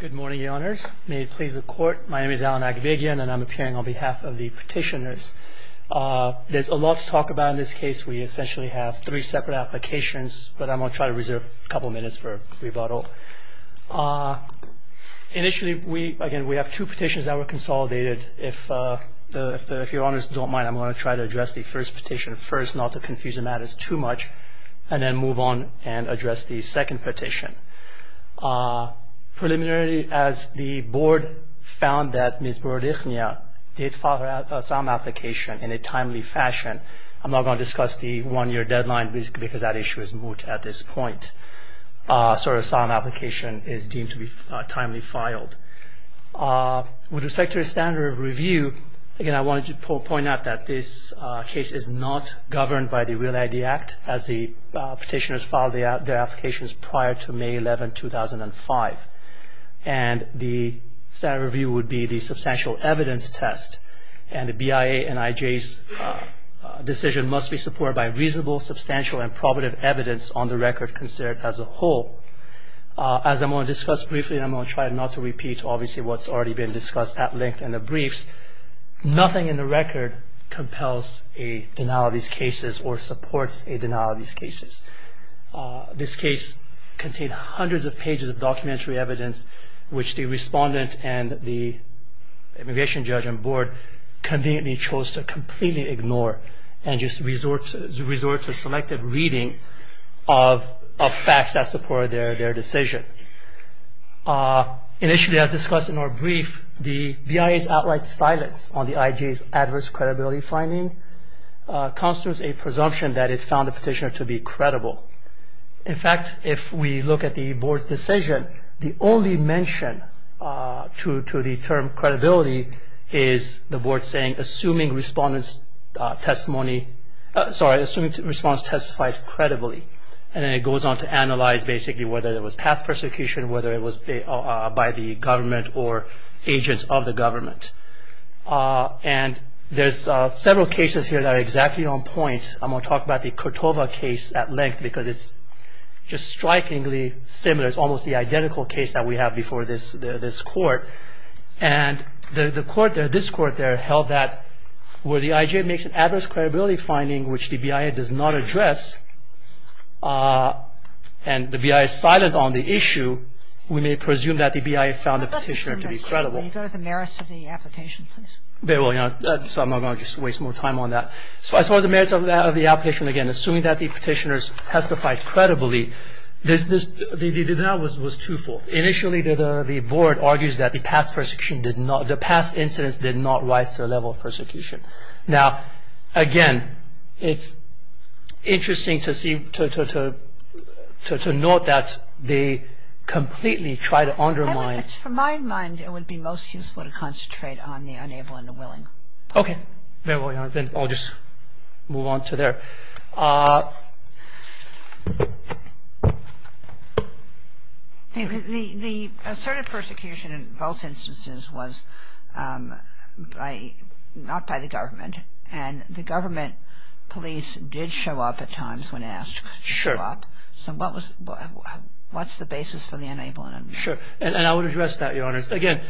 Good morning, Your Honors. May it please the Court, my name is Alan Akhbegian, and I'm appearing on behalf of the petitioners. There's a lot to talk about in this case. We essentially have three separate applications, but I'm going to try to reserve a couple of minutes for rebuttal. Initially, we have two petitions that were consolidated. If Your Honors don't mind, I'm going to try to address the first petition first, not to confuse the matters too much, and then move on and address the second petition. Preliminarily, as the Board found that Ms. Brodichnia did file her asylum application in a timely fashion, I'm not going to discuss the one-year deadline because that issue is moot at this point. So her asylum application is deemed to be timely filed. With respect to the standard of review, again, I wanted to point out that this case is not governed by the Real ID Act, as the petitioners filed their applications prior to May 11, 2005. And the standard review would be the substantial evidence test, and the BIA and IJ's decision must be supported by reasonable, substantial, and probative evidence on the record considered as a whole. As I'm going to discuss briefly, and I'm going to try not to repeat, obviously, what's already been discussed at length in the briefs, nothing in the record compels a denial of these cases or supports a denial of these cases. This case contained hundreds of pages of documentary evidence, which the Respondent and the Immigration Judge and Board conveniently chose to completely ignore and just resort to selective reading of facts that supported their decision. Initially, as discussed in our brief, the BIA's outright silence on the IJ's adverse credibility finding constitutes a presumption that it found the petitioner to be credible. In fact, if we look at the Board's decision, the only mention to the term credibility is the Board saying, assuming respondents testified credibly. And then it goes on to analyze, basically, whether it was past persecution, whether it was by the government or agents of the government. And there's several cases here that are exactly on point. I'm going to talk about the Cordova case at length because it's just strikingly similar. It's almost the identical case that we have before this Court. And the Court there, this Court there, held that where the IJ makes an adverse credibility finding which the BIA does not address, and the BIA is silent on the issue, we may presume that the BIA found the petitioner to be credible. Kagan. Can you go to the merits of the application, please? Very well. So I'm not going to just waste more time on that. So as far as the merits of the application, again, assuming that the petitioners testified credibly, that was twofold. Initially, the Board argues that the past persecution did not, the past incidents did not rise to the level of persecution. Now, again, it's interesting to see, to note that they completely tried to undermine. From my mind, it would be most useful to concentrate on the unable and the willing. Okay. Then I'll just move on to there. The asserted persecution in both instances was not by the government. And the government police did show up at times when asked to show up. So what's the basis for the unable and the willing? Sure. And I would address that, Your Honors. Again,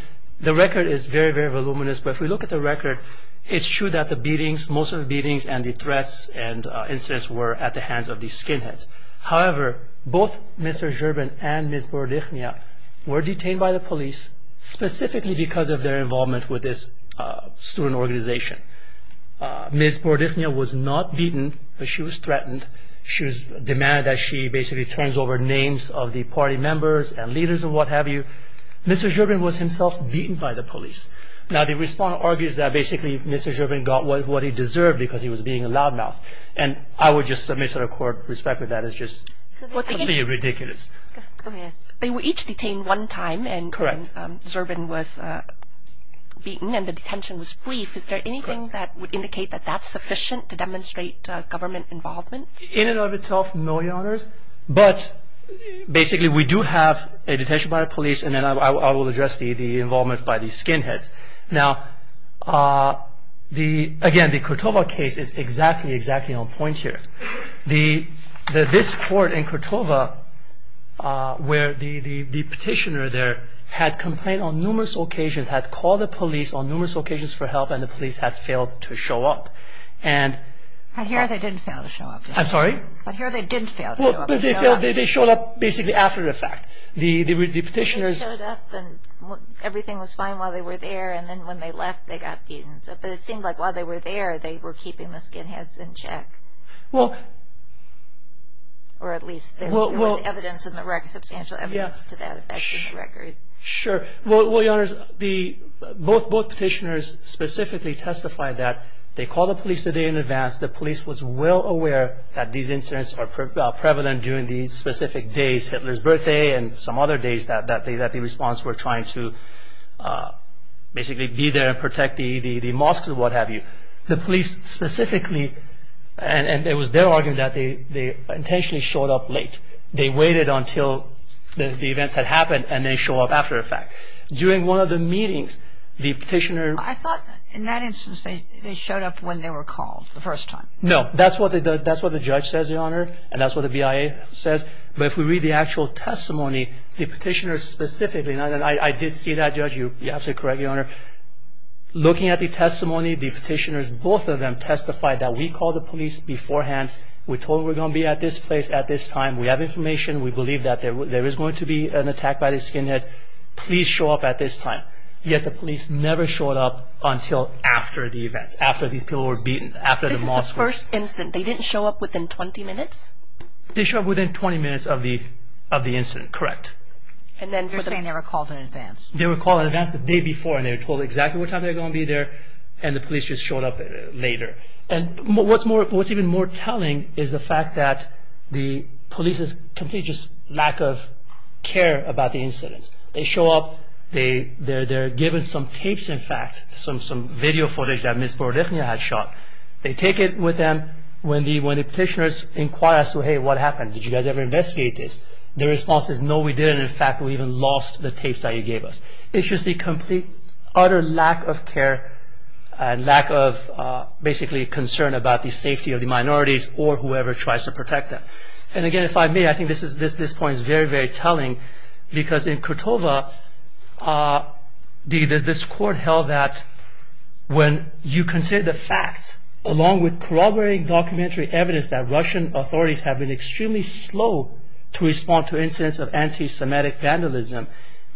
the record is very, very voluminous, but if we look at the record, it's true that the beatings, most of the beatings and the threats and incidents were at the hands of the skinheads. However, both Mr. Zerbin and Ms. Bordichnia were detained by the police, specifically because of their involvement with this student organization. Ms. Bordichnia was not beaten, but she was threatened. She was demanded that she basically turns over names of the party members and leaders and what have you. Mr. Zerbin was himself beaten by the police. Now, the respondent argues that basically Mr. Zerbin got what he deserved because he was being a loudmouth. And I would just submit to the court, respect with that is just completely ridiculous. They were each detained one time and Zerbin was beaten and the detention was brief. Is there anything that would indicate that that's sufficient to demonstrate government involvement? In and of itself, no, Your Honors, but basically we do have a detention by the police and then I will address the involvement by the skinheads. Now, again, the Kortova case is exactly, exactly on point here. This court in Kortova where the petitioner there had complained on numerous occasions, had called the police on numerous occasions for help and the police had failed to show up. I hear they didn't fail to show up. I'm sorry? I hear they didn't fail to show up. They showed up basically after the fact. They showed up and everything was fine while they were there and then when they left they got beaten. But it seemed like while they were there they were keeping the skinheads in check. Or at least there was evidence, substantial evidence to that effect in the record. Sure. Well, Your Honors, both petitioners specifically testified that they called the police a day in advance. The police was well aware that these incidents are prevalent during these specific days, Hitler's birthday and some other days that the response were trying to basically be there and protect the mosques and what have you. The police specifically, and it was their argument that they intentionally showed up late. They waited until the events had happened and they showed up after the fact. During one of the meetings, the petitioner... I thought in that instance they showed up when they were called the first time. No, that's what the judge says, Your Honor, and that's what the BIA says. But if we read the actual testimony, the petitioner specifically, and I did see that, Judge. You're absolutely correct, Your Honor. Looking at the testimony, the petitioners, both of them testified that we called the police beforehand. We told them we're going to be at this place at this time. We have information. We believe that there is going to be an attack by the skinheads. Please show up at this time. Yet the police never showed up until after the events, after these people were beaten, after the mosques. This is the first incident. They didn't show up within 20 minutes? They showed up within 20 minutes of the incident, correct. You're saying they were called in advance. They were called in advance the day before and they were told exactly what time they were going to be there and the police just showed up later. And what's even more telling is the fact that the police's complete lack of care about the incidents. They show up. They're given some tapes, in fact, some video footage that Ms. Borodechnia had shot. They take it with them. When the petitioners inquire as to, Hey, what happened? Did you guys ever investigate this? Their response is, No, we didn't. In fact, we even lost the tapes that you gave us. It's just the complete, utter lack of care and lack of basically concern about the safety of the minorities or whoever tries to protect them. And again, if I may, I think this point is very, very telling because in Kortova, this court held that when you consider the fact, along with corroborating documentary evidence that Russian authorities have been extremely slow to respond to incidents of anti-Semitic vandalism,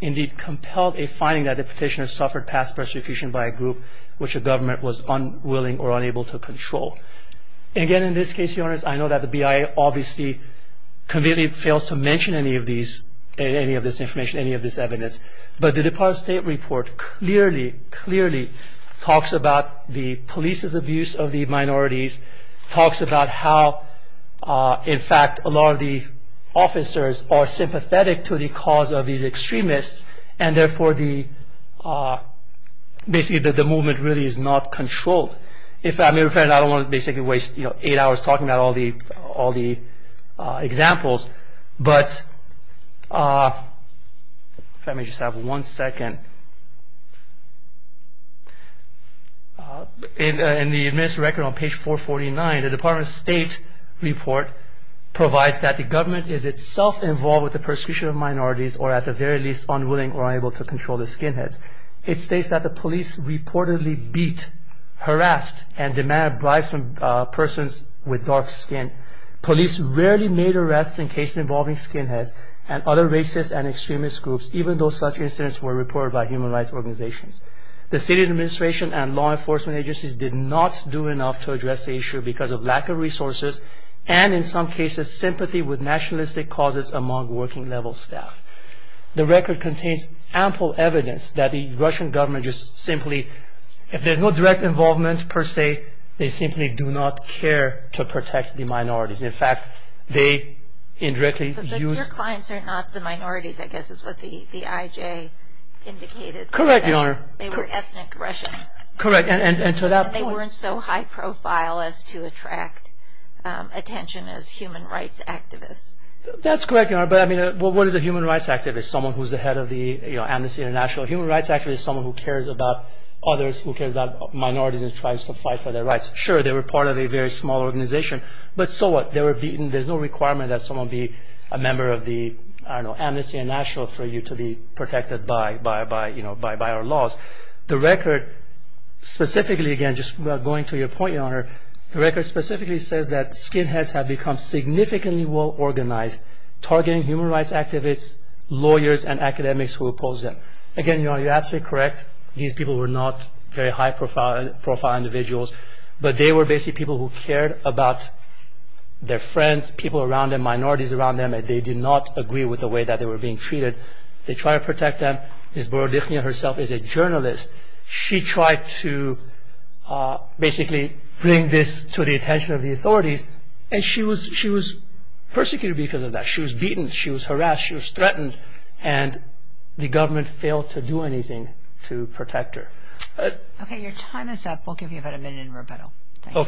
indeed compelled a finding that the petitioners suffered past persecution by a group which the government was unwilling or unable to control. Again, in this case, Your Honor, I know that the BIA obviously completely fails to mention any of this information, any of this evidence. But the Department of State report clearly, clearly talks about the police's abuse of the minorities, talks about how, in fact, a lot of the officers are sympathetic to the cause of these extremists and therefore the movement really is not controlled. If I may, Your Honor, I don't want to basically waste eight hours talking about all the examples, but if I may just have one second, in the administrative record on page 449, the Department of State report provides that the government is itself involved with the persecution of minorities or at the very least unwilling or unable to control the skinheads. It states that the police reportedly beat, harassed, and demanded bribes from persons with dark skin. Police rarely made arrests in cases involving skinheads and other racist and extremist groups, even though such incidents were reported by human rights organizations. The state administration and law enforcement agencies did not do enough to address the issue because of lack of resources and, in some cases, sympathy with nationalistic causes among working-level staff. The record contains ample evidence that the Russian government just simply, if there's no direct involvement per se, they simply do not care to protect the minorities. In fact, they indirectly use... But your clients are not the minorities, I guess is what the IJ indicated. Correct, Your Honor. They were ethnic Russians. Correct, and to that point... And they weren't so high profile as to attract attention as human rights activists. That's correct, Your Honor, but what is a human rights activist? Someone who's the head of the Amnesty International. A human rights activist is someone who cares about others, who cares about minorities and tries to fight for their rights. Sure, they were part of a very small organization, but so what? There's no requirement that someone be a member of the Amnesty International for you to be protected by our laws. The record specifically, again, just going to your point, Your Honor, the record specifically says that skinheads have become significantly well-organized, targeting human rights activists, lawyers, and academics who oppose them. Again, Your Honor, you're absolutely correct. These people were not very high-profile individuals, but they were basically people who cared about their friends, people around them, minorities around them, and they did not agree with the way that they were being treated. They tried to protect them. Ms. Borodichnian herself is a journalist. She tried to basically bring this to the attention of the authorities, and she was persecuted because of that. She was beaten. She was harassed. She was threatened. And the government failed to do anything to protect her. Okay, your time is up. We'll give you about a minute in rebuttal. Thank you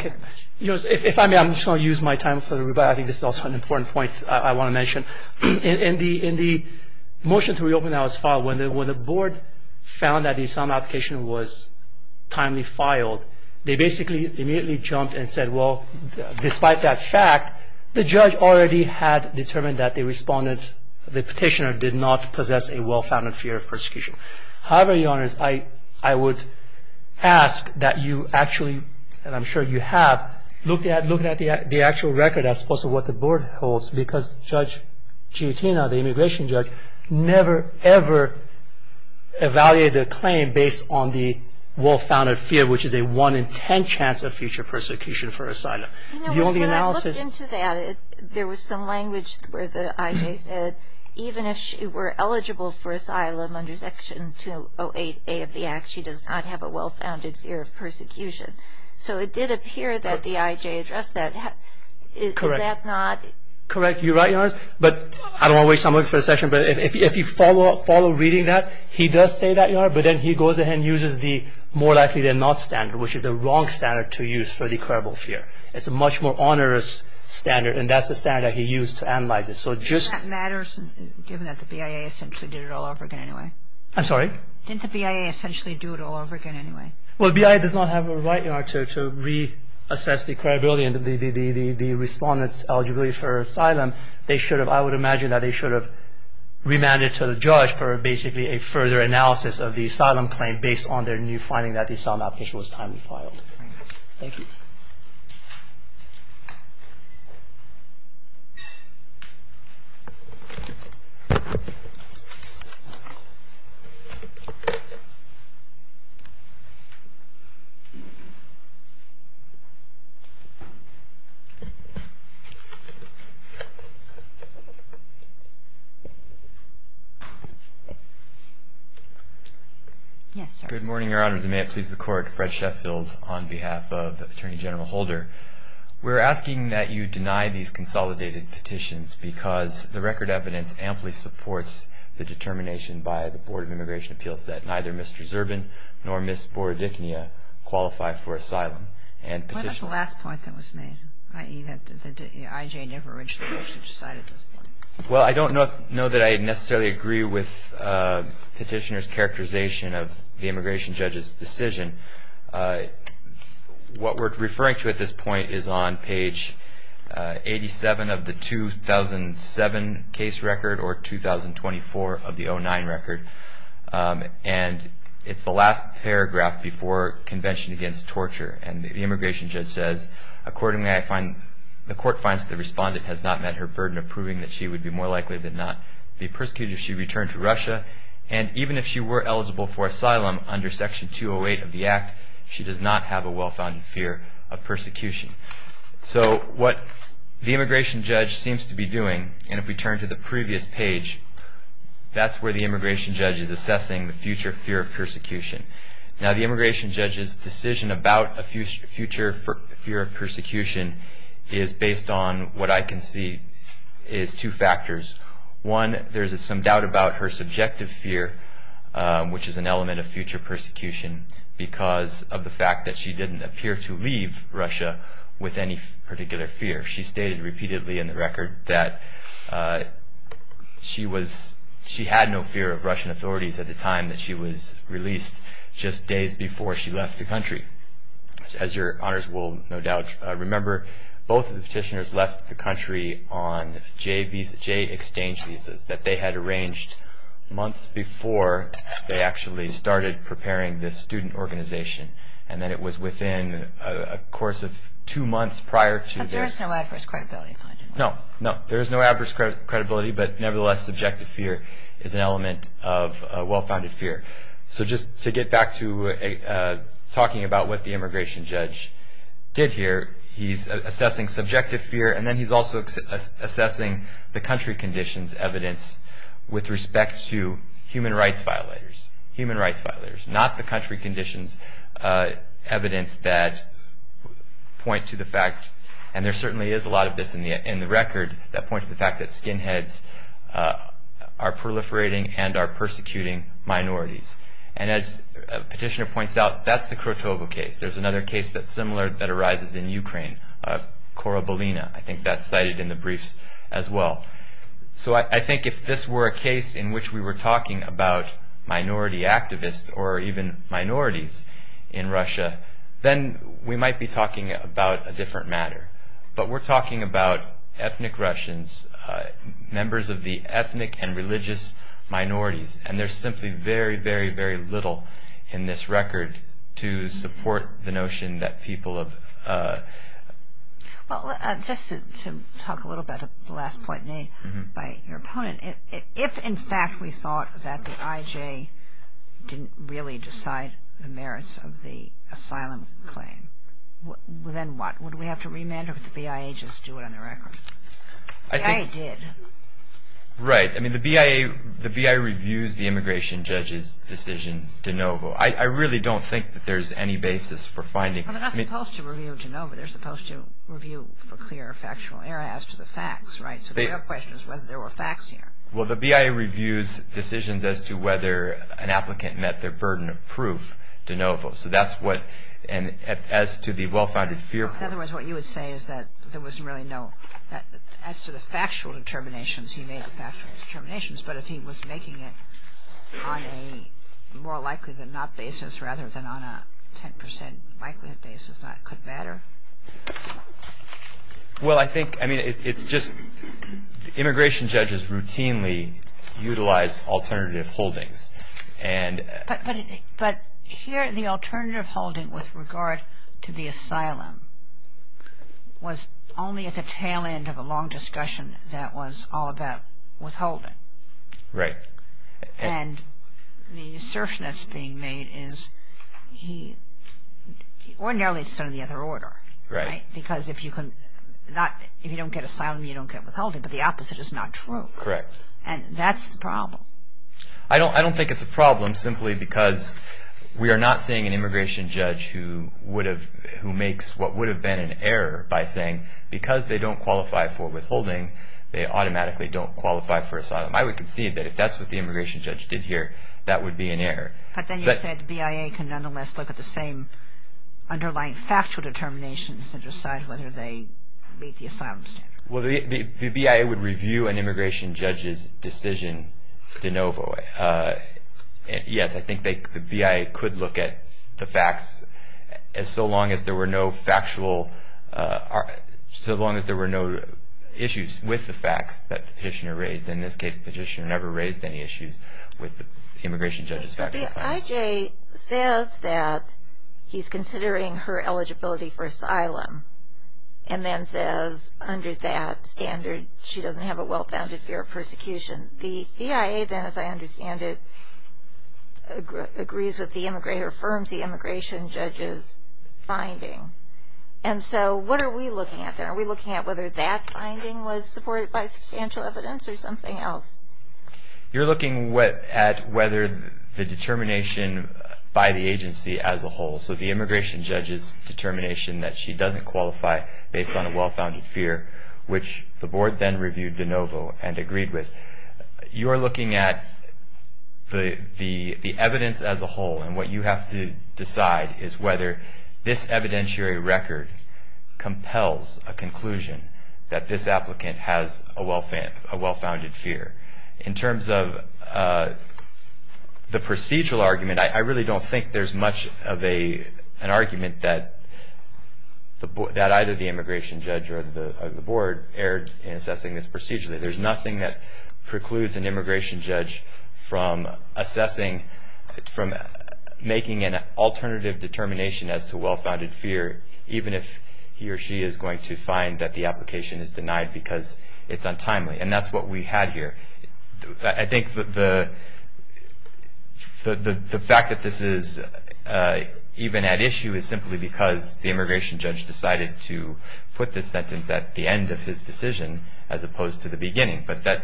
very much. If I may, I'm just going to use my time for the rebuttal. I think this is also an important point I want to mention. In the motion to reopen that was filed, when the board found that the asylum application was timely filed, they basically immediately jumped and said, well, despite that fact, the judge already had determined that the petitioner did not possess a well-founded fear of persecution. However, your Honor, I would ask that you actually, and I'm sure you have, look at the actual record as opposed to what the board holds, because Judge Giottina, the immigration judge, never, ever evaluated the claim based on the well-founded fear, which is a one in ten chance of future persecution for asylum. You know, when I looked into that, there was some language where the I.J. said, even if she were eligible for asylum under Section 208A of the Act, she does not have a well-founded fear of persecution. So it did appear that the I.J. addressed that. Correct. Is that not? Correct. You're right, your Honor. But I don't want to waste time looking for the section, but if you follow reading that, he does say that, your Honor, but then he goes ahead and uses the more likely than not standard, which is the wrong standard to use for the credible fear. It's a much more onerous standard, and that's the standard that he used to analyze it. Does that matter, given that the BIA essentially did it all over again anyway? I'm sorry? Didn't the BIA essentially do it all over again anyway? Well, the BIA does not have a right to reassess the credibility and the respondent's eligibility for asylum. I would imagine that they should have remanded it to the judge for basically a further analysis of the asylum claim based on their new finding that the asylum application was timely filed. Thank you. Yes, sir? Good morning, your Honors. And may it please the Court, Fred Sheffield on behalf of the Attorney General's Office We're asking that you deny these consolidated petitions because the record evidence amply supports the determination by the Board of Immigration Appeals that neither Mr. Zerbin nor Ms. Bordigna qualify for asylum. What about the last point that was made, i.e. that the IJ never reached the judge's side at this point? Well, I don't know that I necessarily agree with Petitioner's characterization of the immigration judge's decision. What we're referring to at this point is on page 87 of the 2007 case record or 2024 of the 2009 record. And it's the last paragraph before Convention Against Torture. And the immigration judge says, Accordingly, the Court finds that the respondent has not met her burden of proving that she would be more likely than not be persecuted if she returned to Russia. And even if she were eligible for asylum under Section 208 of the Act, she does not have a well-founded fear of persecution. So what the immigration judge seems to be doing, and if we turn to the previous page, that's where the immigration judge is assessing the future fear of persecution. Now, the immigration judge's decision about a future fear of persecution is based on what I can see is two factors. One, there's some doubt about her subjective fear, which is an element of future persecution, because of the fact that she didn't appear to leave Russia with any particular fear. She stated repeatedly in the record that she had no fear of Russian authorities at the time that she was released, just days before she left the country. As your honors will no doubt remember, both of the petitioners left the country on J-exchange visas that they had arranged months before they actually started preparing this student organization, and that it was within a course of two months prior to their... But there is no adverse credibility. No, no, there is no adverse credibility, but nevertheless, subjective fear is an element of well-founded fear. So just to get back to talking about what the immigration judge did here, he's assessing subjective fear, and then he's also assessing the country conditions evidence with respect to human rights violators. Human rights violators, not the country conditions evidence that point to the fact, and there certainly is a lot of this in the record, that point to the fact that skinheads are proliferating and are persecuting minorities. And as a petitioner points out, that's the Krotovo case. There's another case that's similar that arises in Ukraine, Korobolina. I think that's cited in the briefs as well. So I think if this were a case in which we were talking about minority activists, or even minorities in Russia, then we might be talking about a different matter. But we're talking about ethnic Russians, members of the ethnic and religious minorities, and there's simply very, very, very little in this record to support the notion that people have. Well, just to talk a little about the last point made by your opponent, if in fact we thought that the IJ didn't really decide the merits of the asylum claim, then what? Would we have to remand or would the BIA just do it on the record? The BIA did. Right. I mean, the BIA reviews the immigration judge's decision de novo. I really don't think that there's any basis for finding. Well, they're not supposed to review de novo. They're supposed to review for clear factual error as to the facts, right? So the real question is whether there were facts here. Well, the BIA reviews decisions as to whether an applicant met their burden of proof de novo. So that's what, and as to the well-founded fear. In other words, what you would say is that there was really no, as to the factual determinations, he made the factual determinations, but if he was making it on a more likely than not basis rather than on a 10 percent likelihood basis, that could matter? Well, I think, I mean, it's just immigration judges routinely utilize alternative holdings. But here the alternative holding with regard to the asylum was only at the tail end of a long discussion that was all about withholding. Right. And the assertion that's being made is he, ordinarily it's done in the other order. Right. Because if you don't get asylum, you don't get withholding, but the opposite is not true. Correct. And that's the problem. I don't think it's a problem simply because we are not seeing an immigration judge who makes what would have been an error by saying because they don't qualify for withholding, they automatically don't qualify for asylum. I would concede that if that's what the immigration judge did here, that would be an error. But then you said the BIA can nonetheless look at the same underlying factual determinations and decide whether they meet the asylum standard. Well, the BIA would review an immigration judge's decision de novo. Yes, I think the BIA could look at the facts so long as there were no factual, so long as there were no issues with the facts that the petitioner raised. In this case, the petitioner never raised any issues with the immigration judge's factual findings. The IJ says that he's considering her eligibility for asylum and then says under that standard she doesn't have a well-founded fear of persecution. The BIA then, as I understand it, agrees with the immigration judge's finding. And so what are we looking at there? Are we looking at whether that finding was supported by substantial evidence or something else? You're looking at whether the determination by the agency as a whole, so the immigration judge's determination that she doesn't qualify based on a well-founded fear, which the board then reviewed de novo and agreed with. You're looking at the evidence as a whole, and what you have to decide is whether this evidentiary record compels a conclusion that this applicant has a well-founded fear. In terms of the procedural argument, I really don't think there's much of an argument that either the immigration judge or the board erred in assessing this procedurally. There's nothing that precludes an immigration judge from assessing, from making an alternative determination as to well-founded fear, even if he or she is going to find that the application is denied because it's untimely. And that's what we had here. I think the fact that this is even at issue is simply because the immigration judge decided to put this sentence at the end of his decision as opposed to the beginning. But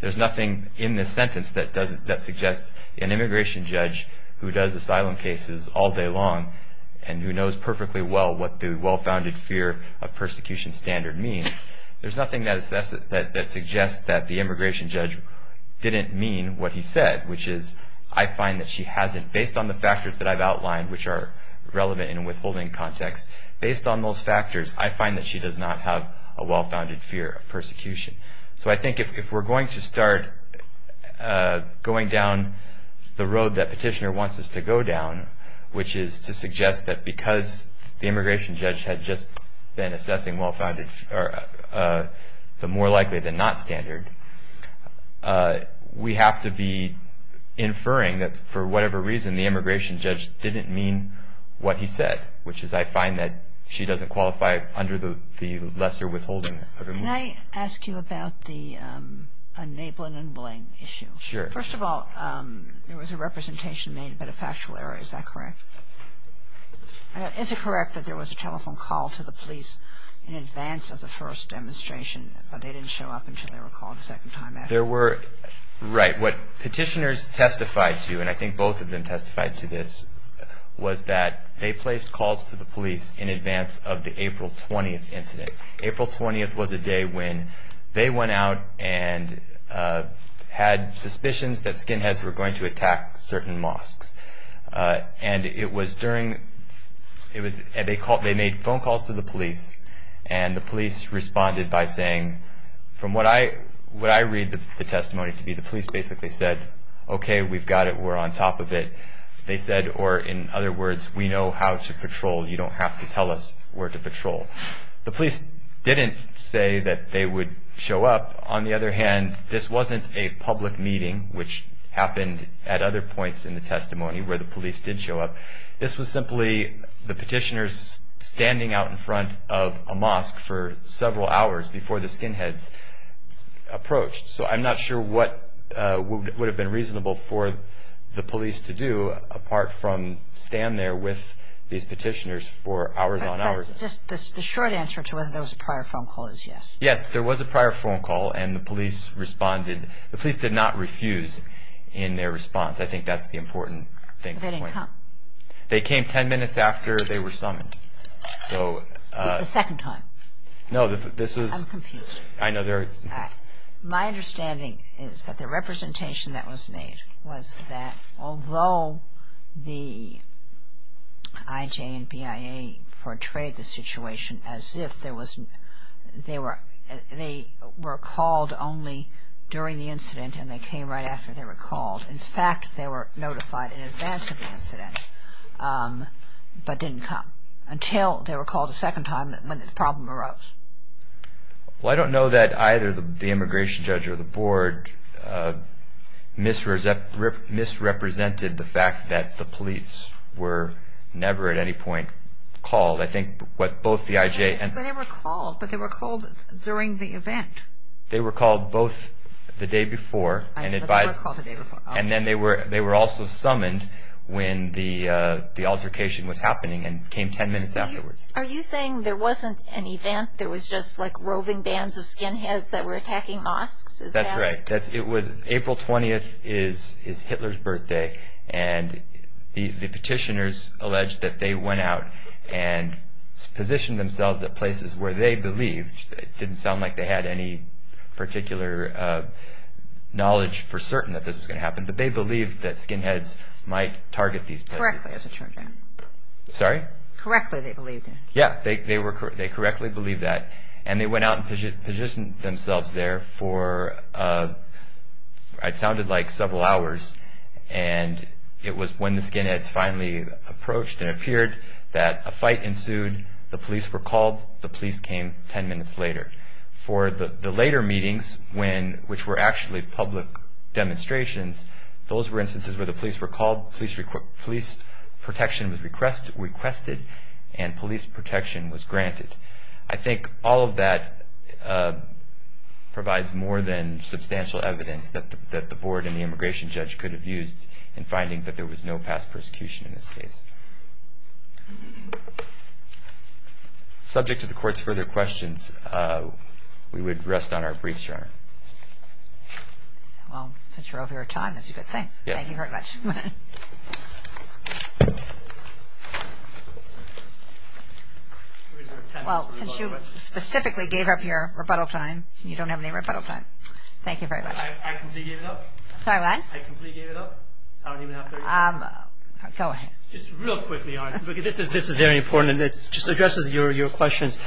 there's nothing in this sentence that suggests an immigration judge who does asylum cases all day long and who knows perfectly well what the well-founded fear of persecution standard means. There's nothing that suggests that the immigration judge didn't mean what he said, which is I find that she hasn't, based on the factors that I've outlined, which are relevant in a withholding context. Based on those factors, I find that she does not have a well-founded fear of persecution. So I think if we're going to start going down the road that Petitioner wants us to go down, which is to suggest that because the immigration judge had just been assessing the more likely than not standard, we have to be inferring that for whatever reason the immigration judge didn't mean what he said, which is I find that she doesn't qualify under the lesser withholding. Can I ask you about the enabling and blaming issue? Sure. First of all, there was a representation made, but a factual error. Is that correct? Is it correct that there was a telephone call to the police in advance of the first demonstration, but they didn't show up until they were called a second time after? Right. What Petitioners testified to, and I think both of them testified to this, was that they placed calls to the police in advance of the April 20th incident. I think April 20th was a day when they went out and had suspicions that skinheads were going to attack certain mosques. And it was during they made phone calls to the police, and the police responded by saying, from what I read the testimony to be, the police basically said, okay, we've got it. We're on top of it. They said, or in other words, we know how to patrol. You don't have to tell us where to patrol. The police didn't say that they would show up. On the other hand, this wasn't a public meeting, which happened at other points in the testimony where the police did show up. This was simply the Petitioners standing out in front of a mosque for several hours before the skinheads approached. So I'm not sure what would have been reasonable for the police to do, The short answer to whether there was a prior phone call is yes. Yes, there was a prior phone call, and the police responded. The police did not refuse in their response. I think that's the important thing. They didn't come. They came ten minutes after they were summoned. This is the second time. No, this was... I'm confused. I know. My understanding is that the representation that was made was that although the IJ and BIA portrayed the situation as if they were called only during the incident and they came right after they were called. In fact, they were notified in advance of the incident but didn't come until they were called a second time when the problem arose. Well, I don't know that either the immigration judge or the board misrepresented the fact that the police were never at any point called. I think what both the IJ and... But they were called. But they were called during the event. They were called both the day before and advised... But they were called the day before. And then they were also summoned when the altercation was happening and came ten minutes afterwards. Are you saying there wasn't an event? There was just like roving bands of skinheads that were attacking mosques? That's right. April 20th is Hitler's birthday and the petitioners alleged that they went out and positioned themselves at places where they believed. It didn't sound like they had any particular knowledge for certain that this was going to happen, but they believed that skinheads might target these places. Correctly, as a children. Sorry? Correctly they believed. Yeah, they correctly believed that. And they went out and positioned themselves there for what sounded like several hours. And it was when the skinheads finally approached and appeared that a fight ensued. The police were called. The police came ten minutes later. For the later meetings, which were actually public demonstrations, those were instances where the police were called. Police protection was requested and police protection was granted. I think all of that provides more than substantial evidence that the board and the immigration judge could have used in finding that there was no past persecution in this case. Subject to the court's further questions, we would rest on our briefs, Your Honor. Well, since you're over your time, that's a good thing. Thank you very much. Well, since you specifically gave up your rebuttal time, you don't have any rebuttal time. Thank you very much. I completely gave it up. Sorry, what? I completely gave it up. I don't even have 30 seconds. Go ahead. Just real quickly, honestly, because this is very important and it just addresses your questions.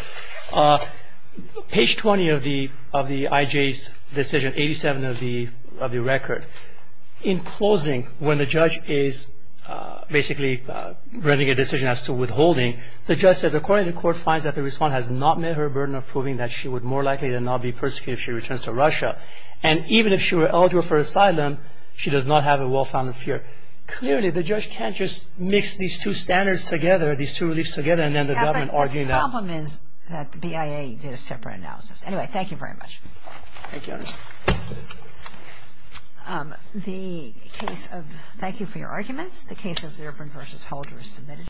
Page 20 of the IJ's decision, 87 of the record. In closing, when the judge is basically running a decision as to withholding, the judge says, according to the court finds that the respondent has not met her burden of proving that she would more likely than not be persecuted if she returns to Russia. And even if she were eligible for asylum, she does not have a well-founded fear. Clearly, the judge can't just mix these two standards together, these two beliefs together, Yeah, but the problem is that the BIA did a separate analysis. Anyway, thank you very much. Thank you, Your Honor. Thank you for your arguments. The case of Zirvin v. Holder is submitted.